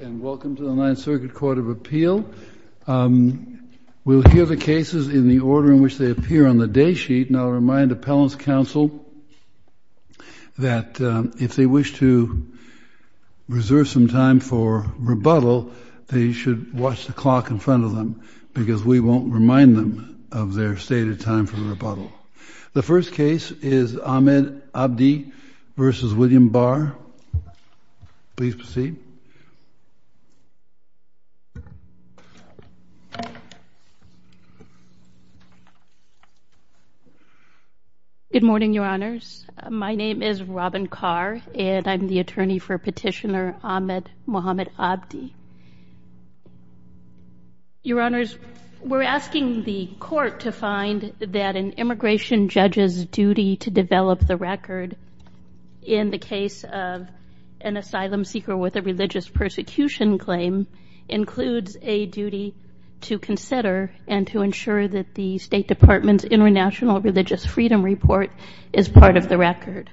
And welcome to the Ninth Circuit Court of Appeal. We'll hear the cases in the order in which they appear on the day sheet. And I'll remind appellants' counsel that if they wish to reserve some time for rebuttal, they should watch the clock in front of them, because we won't remind them of their stated time for the rebuttal. The first case is Ahmed Abdi v. William Barr. Please proceed. Good morning, Your Honors. My name is Robin Carr, and I'm the attorney for Petitioner Ahmed Mohammed Abdi. Your Honors, we're asking the court to find that an immigration judge's duty to develop the record in the case of an asylum seeker with a religious persecution claim includes a duty to consider and to ensure that the State Department's International Religious Freedom Report is part of the record.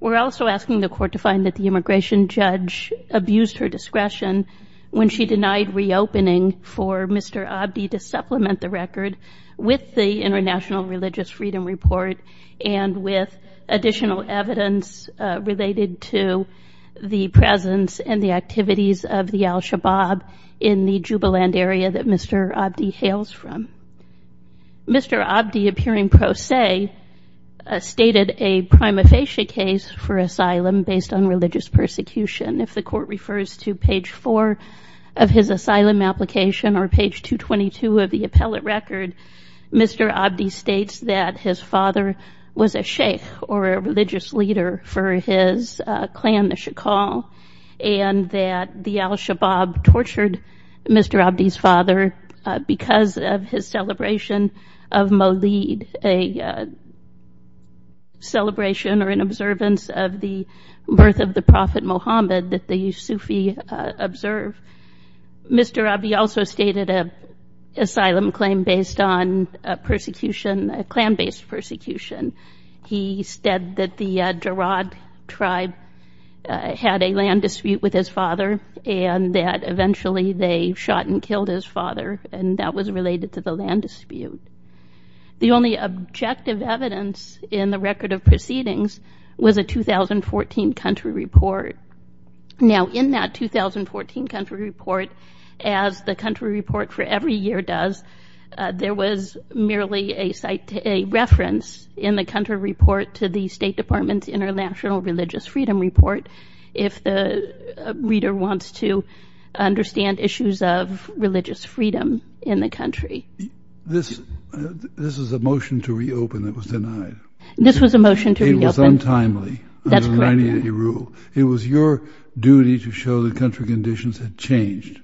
We're also asking the court to find that the immigration judge abused her discretion when she denied reopening for Mr. Abdi to supplement the record with the International Religious Freedom Report and with additional evidence related to the presence and the activities of the al-Shabaab in the Jubiland area that Mr. Abdi hails from. Mr. Abdi, appearing pro se, stated a prima facie case for asylum based on religious persecution. If the court refers to page 4 of his asylum application or page 222 of the appellate record, Mr. Abdi states that his father was a sheikh or a religious leader for his clan, the Shakal, and that the al-Shabaab tortured Mr. Abdi's father because of his celebration of Mawlid, a celebration or an observance of the birth of the prophet Mohammed that the Sufi observe. Mr. Abdi also stated an asylum claim based on persecution, clan-based persecution. He said that the Jarad tribe had a land dispute with his father and that eventually they shot and killed his father, and that was related to the land dispute. The only objective evidence in the record of proceedings was a 2014 country report. Now, in that 2014 country report, as the country report for every year does, there was merely a reference in the country report to the State Department's International Religious Freedom Report if the reader wants to understand issues of religious freedom in the country. This is a motion to reopen that was denied. This was a motion to reopen. It was untimely. That's correct. It was your duty to show that country conditions had changed.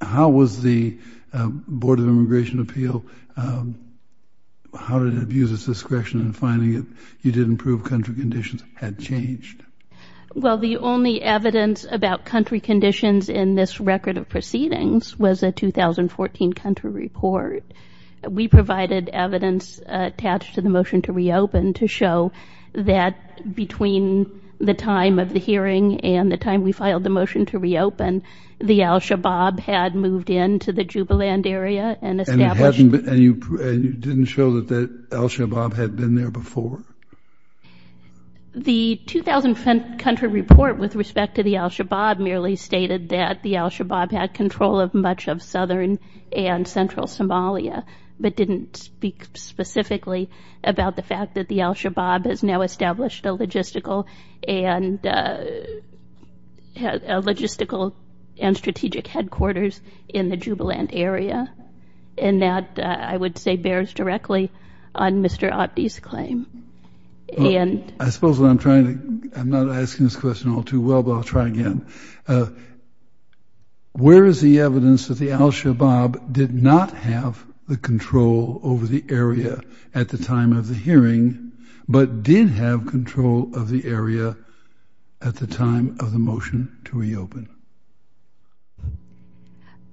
How was the Board of Immigration Appeal, how did it abuse its discretion in finding that you didn't prove country conditions had changed? Well, the only evidence about country conditions in this record of proceedings was a 2014 country report. We provided evidence attached to the motion to reopen to show that between the time of the hearing and the time we filed the motion to reopen, the al-Shabaab had moved into the Jubiland area and established... And you didn't show that the al-Shabaab had been there before? The 2015 country report with respect to the al-Shabaab merely stated that the al-Shabaab had control of much of southern and central Somalia, but didn't speak specifically about the fact that the al-Shabaab has now established a logistical and strategic headquarters in the Jubiland area. And that, I would say, bears directly on Mr. Abdi's claim. I suppose what I'm trying to... I'm not asking this question all too well, but I'll try again. Where is the evidence that the al-Shabaab did not have the control over the area at the time of the hearing, but did have control of the area at the time of the motion to reopen?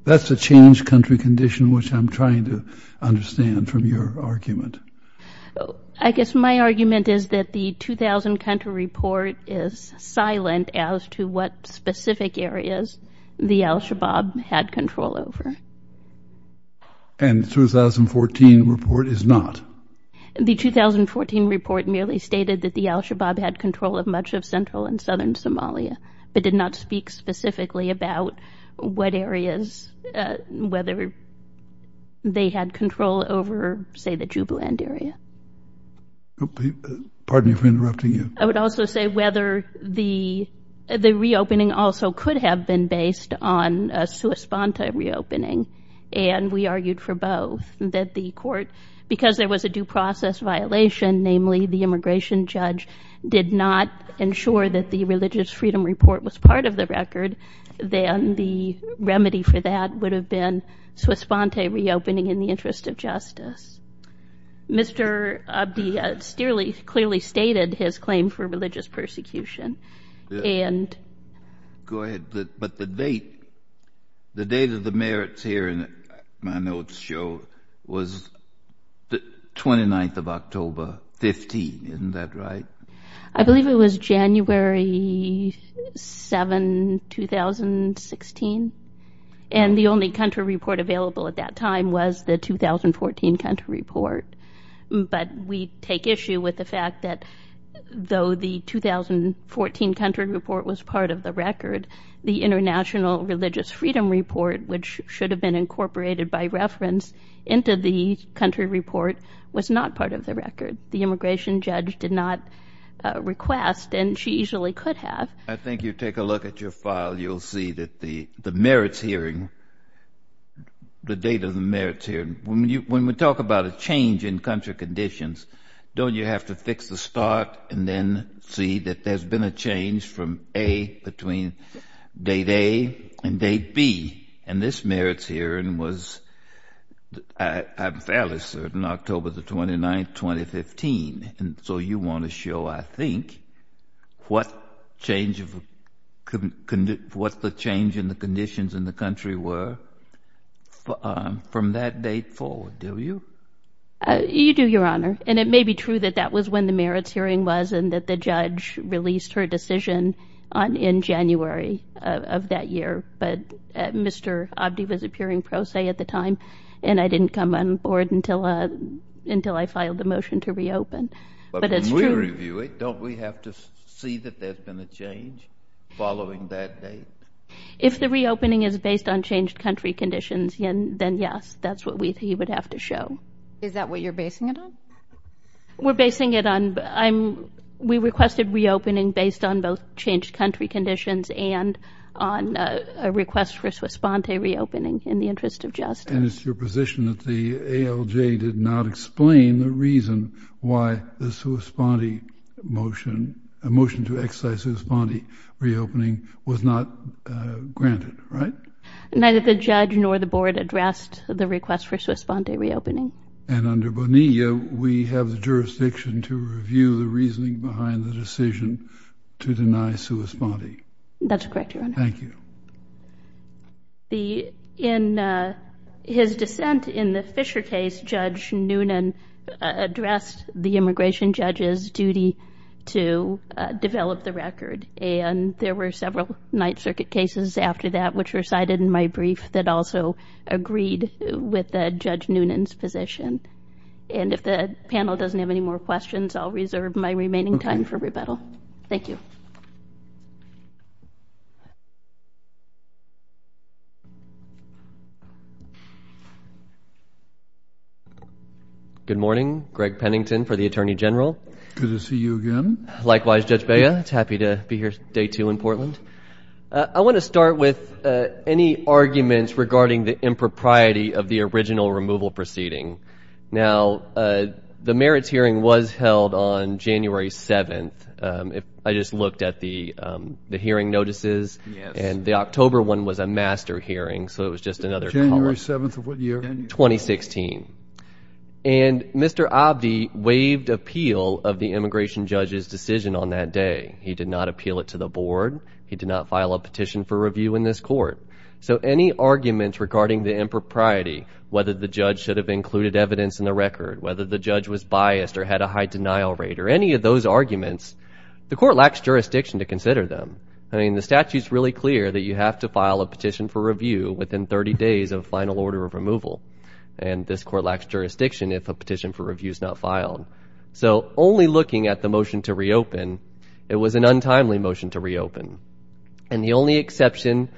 That's a changed country condition, which I'm trying to understand from your argument. I guess my argument is that the 2000 country report is silent as to what specific areas the al-Shabaab had control over. And the 2014 report is not? The 2014 report merely stated that the al-Shabaab had control of much of central and southern Somalia, but did not speak specifically about what areas, whether they had control over, say, the Jubiland area. Pardon me for interrupting you. I would also say whether the reopening also could have been based on a sua sponte reopening. And we argued for both, that the court, because there was a due process violation, namely the immigration judge, did not ensure that the religious freedom report was part of the record, then the remedy for that would have been sua sponte reopening in the interest of justice. Mr. Abdi clearly stated his claim for religious persecution, and... Go ahead, but the date, the date of the merits here in my notes show was the 29th of October, 15, isn't that right? I believe it was January 7, 2016. And the only country report available at that time was the 2014 country report. But we take issue with the fact that though the 2014 country report was part of the record, the international religious freedom report, which should have been incorporated by reference into the country report, was not part of the record. The immigration judge did not request, and she easily could have. I think you take a look at your file, you'll see that the merits hearing, the date of the merits hearing, when we talk about a change in country conditions, don't you have to fix the start and then see that there's been a change from A, between date A and date B, and this merits hearing was, I'm fairly certain, October the 29th, 2015. And so you want to show, I think, what change of, what the change in the conditions in the country were from that date forward, do you? You do, Your Honor. And it may be true that that was when the merits hearing was and that the judge released her decision in January of that year. But Mr. Abdi was appearing pro se at the time, and I didn't come on board until I filed the motion to reopen. But when we review it, don't we have to see that there's been a change following that date? If the reopening is based on changed country conditions, then yes, that's what he would have to show. Is that what you're basing it on? We're basing it on, we requested reopening based on both changed country conditions and on a request for sua sponte reopening in the interest of justice. And it's your position that the ALJ did not explain the reason why the sua sponte motion, a motion to excise sua sponte reopening was not granted, right? Neither the judge nor the board addressed the request for sua sponte reopening. And under Bonilla, we have the jurisdiction to review the reasoning behind the decision to deny sua sponte. That's correct, Your Honor. Thank you. In his dissent in the Fisher case, Judge Noonan addressed the immigration judge's duty to develop the record. And there were several Ninth Circuit cases after that, which were cited in my brief that also agreed with Judge Noonan's position. And if the panel doesn't have any more questions, I'll reserve my remaining time for rebuttal. Thank you. Good morning, Greg Pennington for the Attorney General. Good to see you again. Likewise, Judge Bea. It's happy to be here day two in Portland. I want to start with any arguments regarding the impropriety of the original removal proceeding. Now, the merits hearing was held on January 7th. I just looked at the hearing notices and the October one was a master hearing. So it was just another- January 7th of what year? 2016. And Mr. Abdi waived appeal of the immigration judge's decision on that day. He did not appeal it to the board. He did not file a petition for review in this court. So any arguments regarding the impropriety, whether the judge should have included evidence in the record, whether the judge was biased or had a high denial rate or any of those arguments, the court lacks jurisdiction to consider them. I mean, the statute's really clear that you have to file a petition for review within 30 days of final order of removal. And this court lacks jurisdiction if a petition for review is not filed. So only looking at the motion to reopen, it was an untimely motion to reopen. And the only exception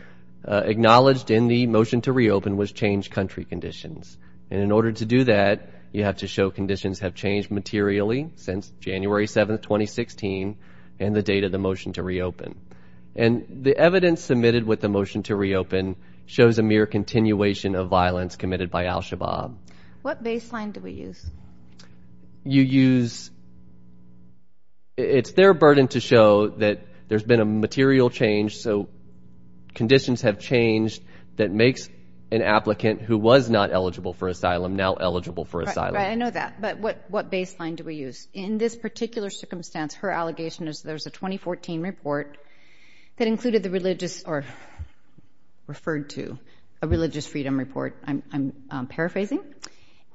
acknowledged in the motion to reopen was changed country conditions. And in order to do that, you have to show conditions have changed materially since January 7th, 2016 and the date of the motion to reopen. And the evidence submitted with the motion to reopen shows a mere continuation of violence committed by Al-Shabaab. What baseline do we use? You use... It's their burden to show that there's been a material change, so conditions have changed, that makes an applicant who was not eligible for asylum now eligible for asylum. Right, I know that, but what baseline do we use? In this particular circumstance, her allegation is there's a 2014 report that included the religious, or referred to, a religious freedom report, I'm paraphrasing,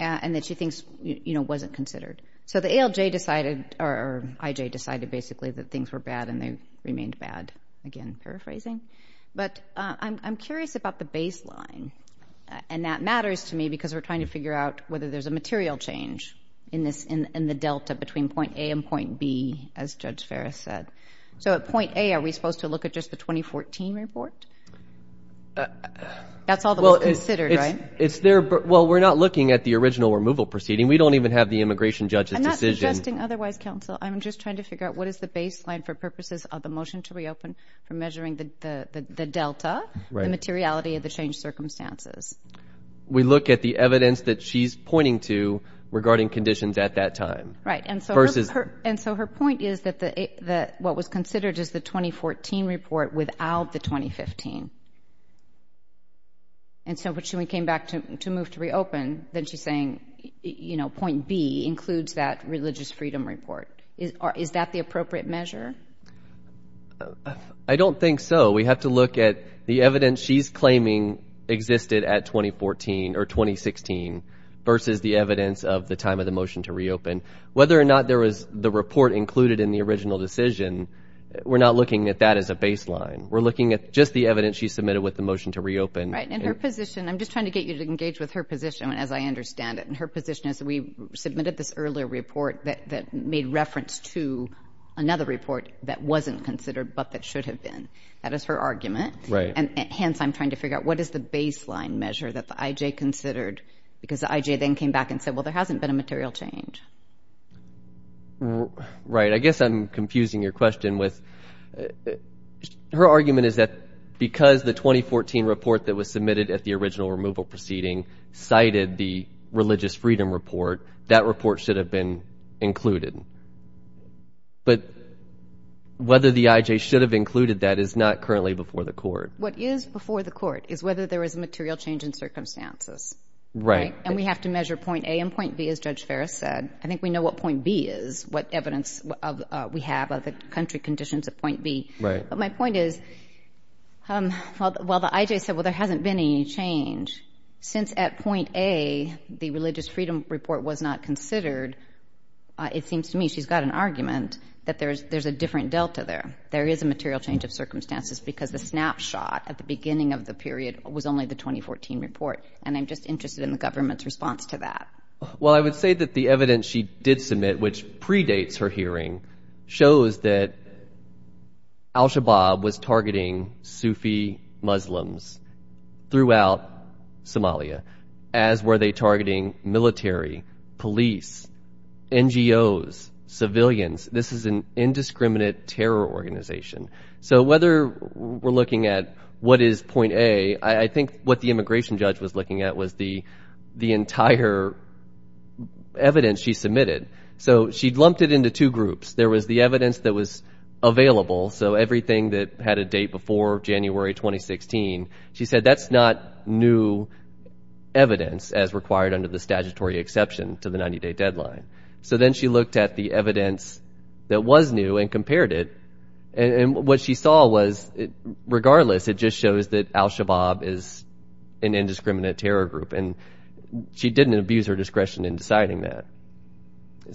and that she thinks, you know, wasn't considered. So the ALJ decided, or IJ decided, basically, that things were bad and they remained bad. Again, paraphrasing. But I'm curious about the baseline. And that matters to me because we're trying to figure out whether there's a material change in the delta between point A and point B, as Judge Ferris said. So at point A, are we supposed to look at just the 2014 report? That's all that was considered, right? It's there, well, we're not looking at the original removal proceeding. We don't even have the immigration judge's decision. I'm not suggesting otherwise, counsel. I'm just trying to figure out what is the baseline for purposes of the motion to reopen for measuring the delta, the materiality of the changed circumstances. We look at the evidence that she's pointing to regarding conditions at that time. Right, and so her point is that what was considered is the 2014 report without the 2015. And so when she came back to move to reopen, then she's saying, you know, point B includes that religious freedom report. Is that the appropriate measure? I don't think so. We have to look at the evidence she's claiming existed at 2014 or 2016 versus the evidence of the time of the motion to reopen. Whether or not there was the report included in the original decision, we're not looking at that as a baseline. We're looking at just the evidence she submitted with the motion to reopen. Right, and her position, I'm just trying to get you to engage with her position as I understand it. And her position is that we submitted this earlier report that made reference to another report that wasn't considered but that should have been. That is her argument. Right. And hence, I'm trying to figure out what is the baseline measure that the IJ considered because the IJ then came back and said, well, there hasn't been a material change. Right, I guess I'm confusing your question with, her argument is that because the 2014 report that was submitted at the original removal proceeding cited the religious freedom report, that report should have been included. But whether the IJ should have included that is not currently before the court. What is before the court is whether there was a material change in circumstances. Right. And we have to measure point A and point B as Judge Ferris said. I think we know what point B is, what evidence we have of the country conditions at point B. Right. But my point is, while the IJ said, well, there hasn't been any change, since at point A, the religious freedom report was not considered, it seems to me she's got an argument that there's a different delta there. There is a material change of circumstances because the snapshot at the beginning of the period was only the 2014 report. And I'm just interested in the government's response to that. Well, I would say that the evidence she did submit, which predates her hearing, shows that Al-Shabaab was targeting Sufi Muslims throughout Somalia, as were they targeting military, police, NGOs, civilians. This is an indiscriminate terror organization. So whether we're looking at what is point A, I think what the immigration judge was looking at was the entire evidence she submitted. So she'd lumped it into two groups. There was the evidence that was available. So everything that had a date before January, 2016, she said that's not new evidence as required under the statutory exception to the 90-day deadline. So then she looked at the evidence that was new and compared it. And what she saw was, regardless, it just shows that Al-Shabaab is an indiscriminate terror group. And she didn't abuse her discretion in deciding that.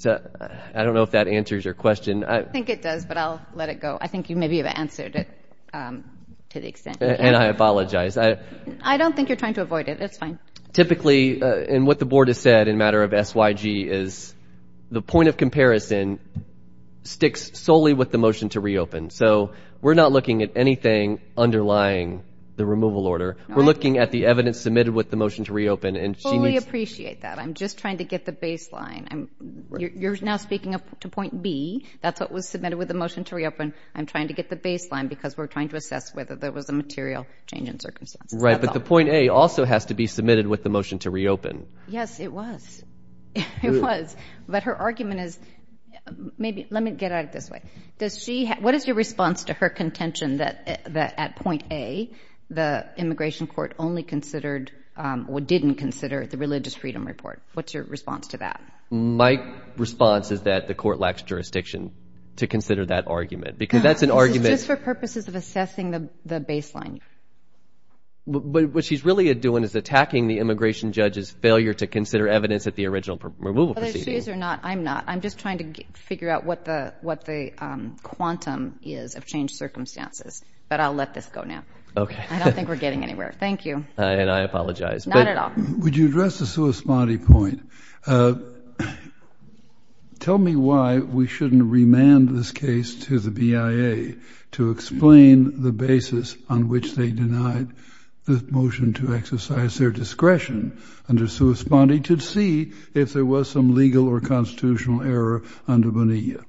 I don't know if that answers your question. I think it does, but I'll let it go. I think you maybe have answered it to the extent you can. And I apologize. I don't think you're trying to avoid it. It's fine. Typically, and what the board has said in a matter of SYG, is the point of comparison sticks solely with the motion to reopen. So we're not looking at anything underlying the removal order. We're looking at the evidence submitted with the motion to reopen. And she needs- I fully appreciate that. I'm just trying to get the baseline. You're now speaking to point B. That's what was submitted with the motion to reopen. I'm trying to get the baseline because we're trying to assess whether there was a material change in circumstances. Right, but the point A also has to be submitted with the motion to reopen. Yes, it was. It was. But her argument is, let me get at it this way. What is your response to her contention that at point A, the immigration court only considered, or didn't consider the religious freedom report? What's your response to that? My response is that the court lacks jurisdiction to consider that argument, because that's an argument- This is just for purposes of assessing the baseline. But what she's really doing is attacking the immigration judge's failure to consider evidence at the original removal proceedings. Whether she is or not, I'm not. I'm just trying to figure out what the quantum is of changed circumstances. But I'll let this go now. Okay. I don't think we're getting anywhere. Thank you. And I apologize. Not at all. Would you address the sua smati point? Tell me why we shouldn't remand this case to the BIA to explain the basis on which they denied the motion to exercise their discretion under sua smati to see if there was some legal or constitutional error under Bonilla.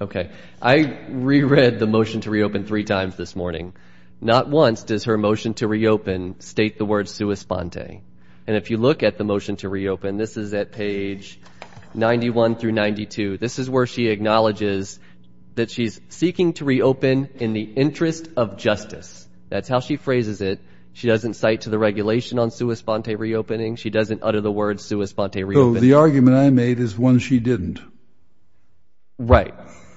Okay. I reread the motion to reopen three times this morning. Not once does her motion to reopen state the word sua smati. And if you look at the motion to reopen, and this is at page 91 through 92, this is where she acknowledges that she's seeking to reopen in the interest of justice. That's how she phrases it. She doesn't cite to the regulation on sua smati reopening. She doesn't utter the word sua smati reopening. The argument I made is one she didn't. Right.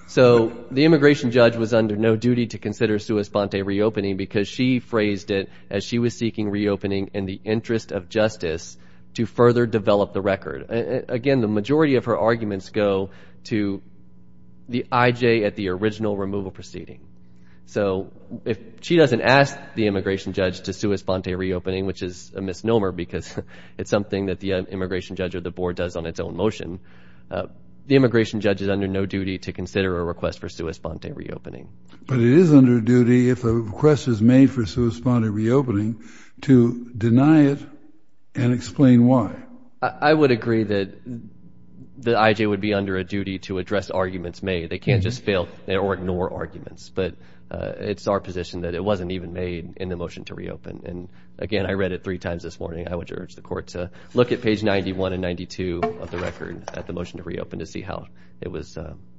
So the immigration judge was under no duty to consider sua smati reopening because she phrased it as she was seeking reopening in the interest of justice to further develop the record. Again, the majority of her arguments go to the IJ at the original removal proceeding. So if she doesn't ask the immigration judge to sua smati reopening, which is a misnomer because it's something that the immigration judge or the board does on its own motion, the immigration judge is under no duty to consider a request for sua smati reopening. But it is under duty if a request is made for sua smati reopening to deny it and explain why. I would agree that the IJ would be under a duty to address arguments made. They can't just fail or ignore arguments, but it's our position that it wasn't even made in the motion to reopen. And again, I read it three times this morning. I would urge the court to look at page 91 and 92 of the record at the motion to reopen to see how it was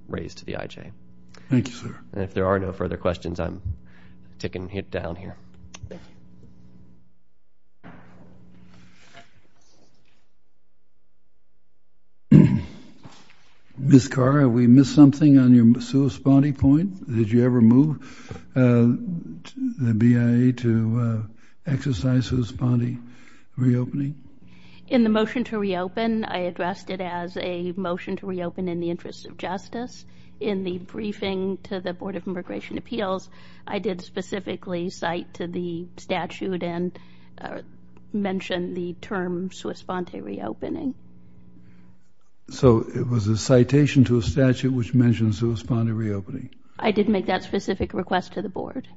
raised to the IJ. Thank you, sir. And if there are no further questions, I'm taking it down here. Ms. Carr, have we missed something on your sua smati point? Did you ever move the BIA to exercise sua smati reopening? In the motion to reopen, I addressed it as a motion to reopen in the interest of justice. In the briefing to the Board of Immigration Appeals, I did specifically cite to the statute and mentioned the term sua smati reopening. So it was a citation to a statute which mentioned sua smati reopening? I did make that specific request to the board.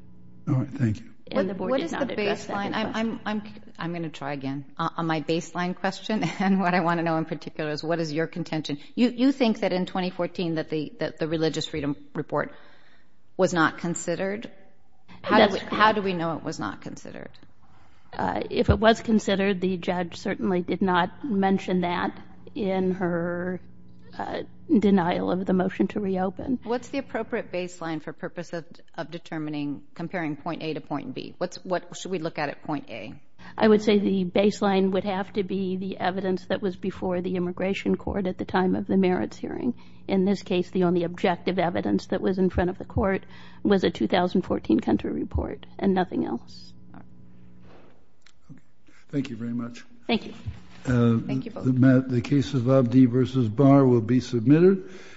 All right, thank you. And the board did not address that question. I'm gonna try again. On my baseline question and what I wanna know in particular is what is your contention? You think that in 2014 that the religious freedom report was not considered? How do we know it was not considered? If it was considered, the judge certainly did not mention that in her denial of the motion to reopen. What's the appropriate baseline for purpose of determining, comparing point A to point B? What should we look at at point A? I would say the baseline would have to be the evidence that was before the immigration court at the time of the merits hearing. In this case, the only objective evidence that was in front of the court was a 2014 country report and nothing else. Thank you very much. Thank you. Thank you both. The case of Abdi versus Barr will be submitted.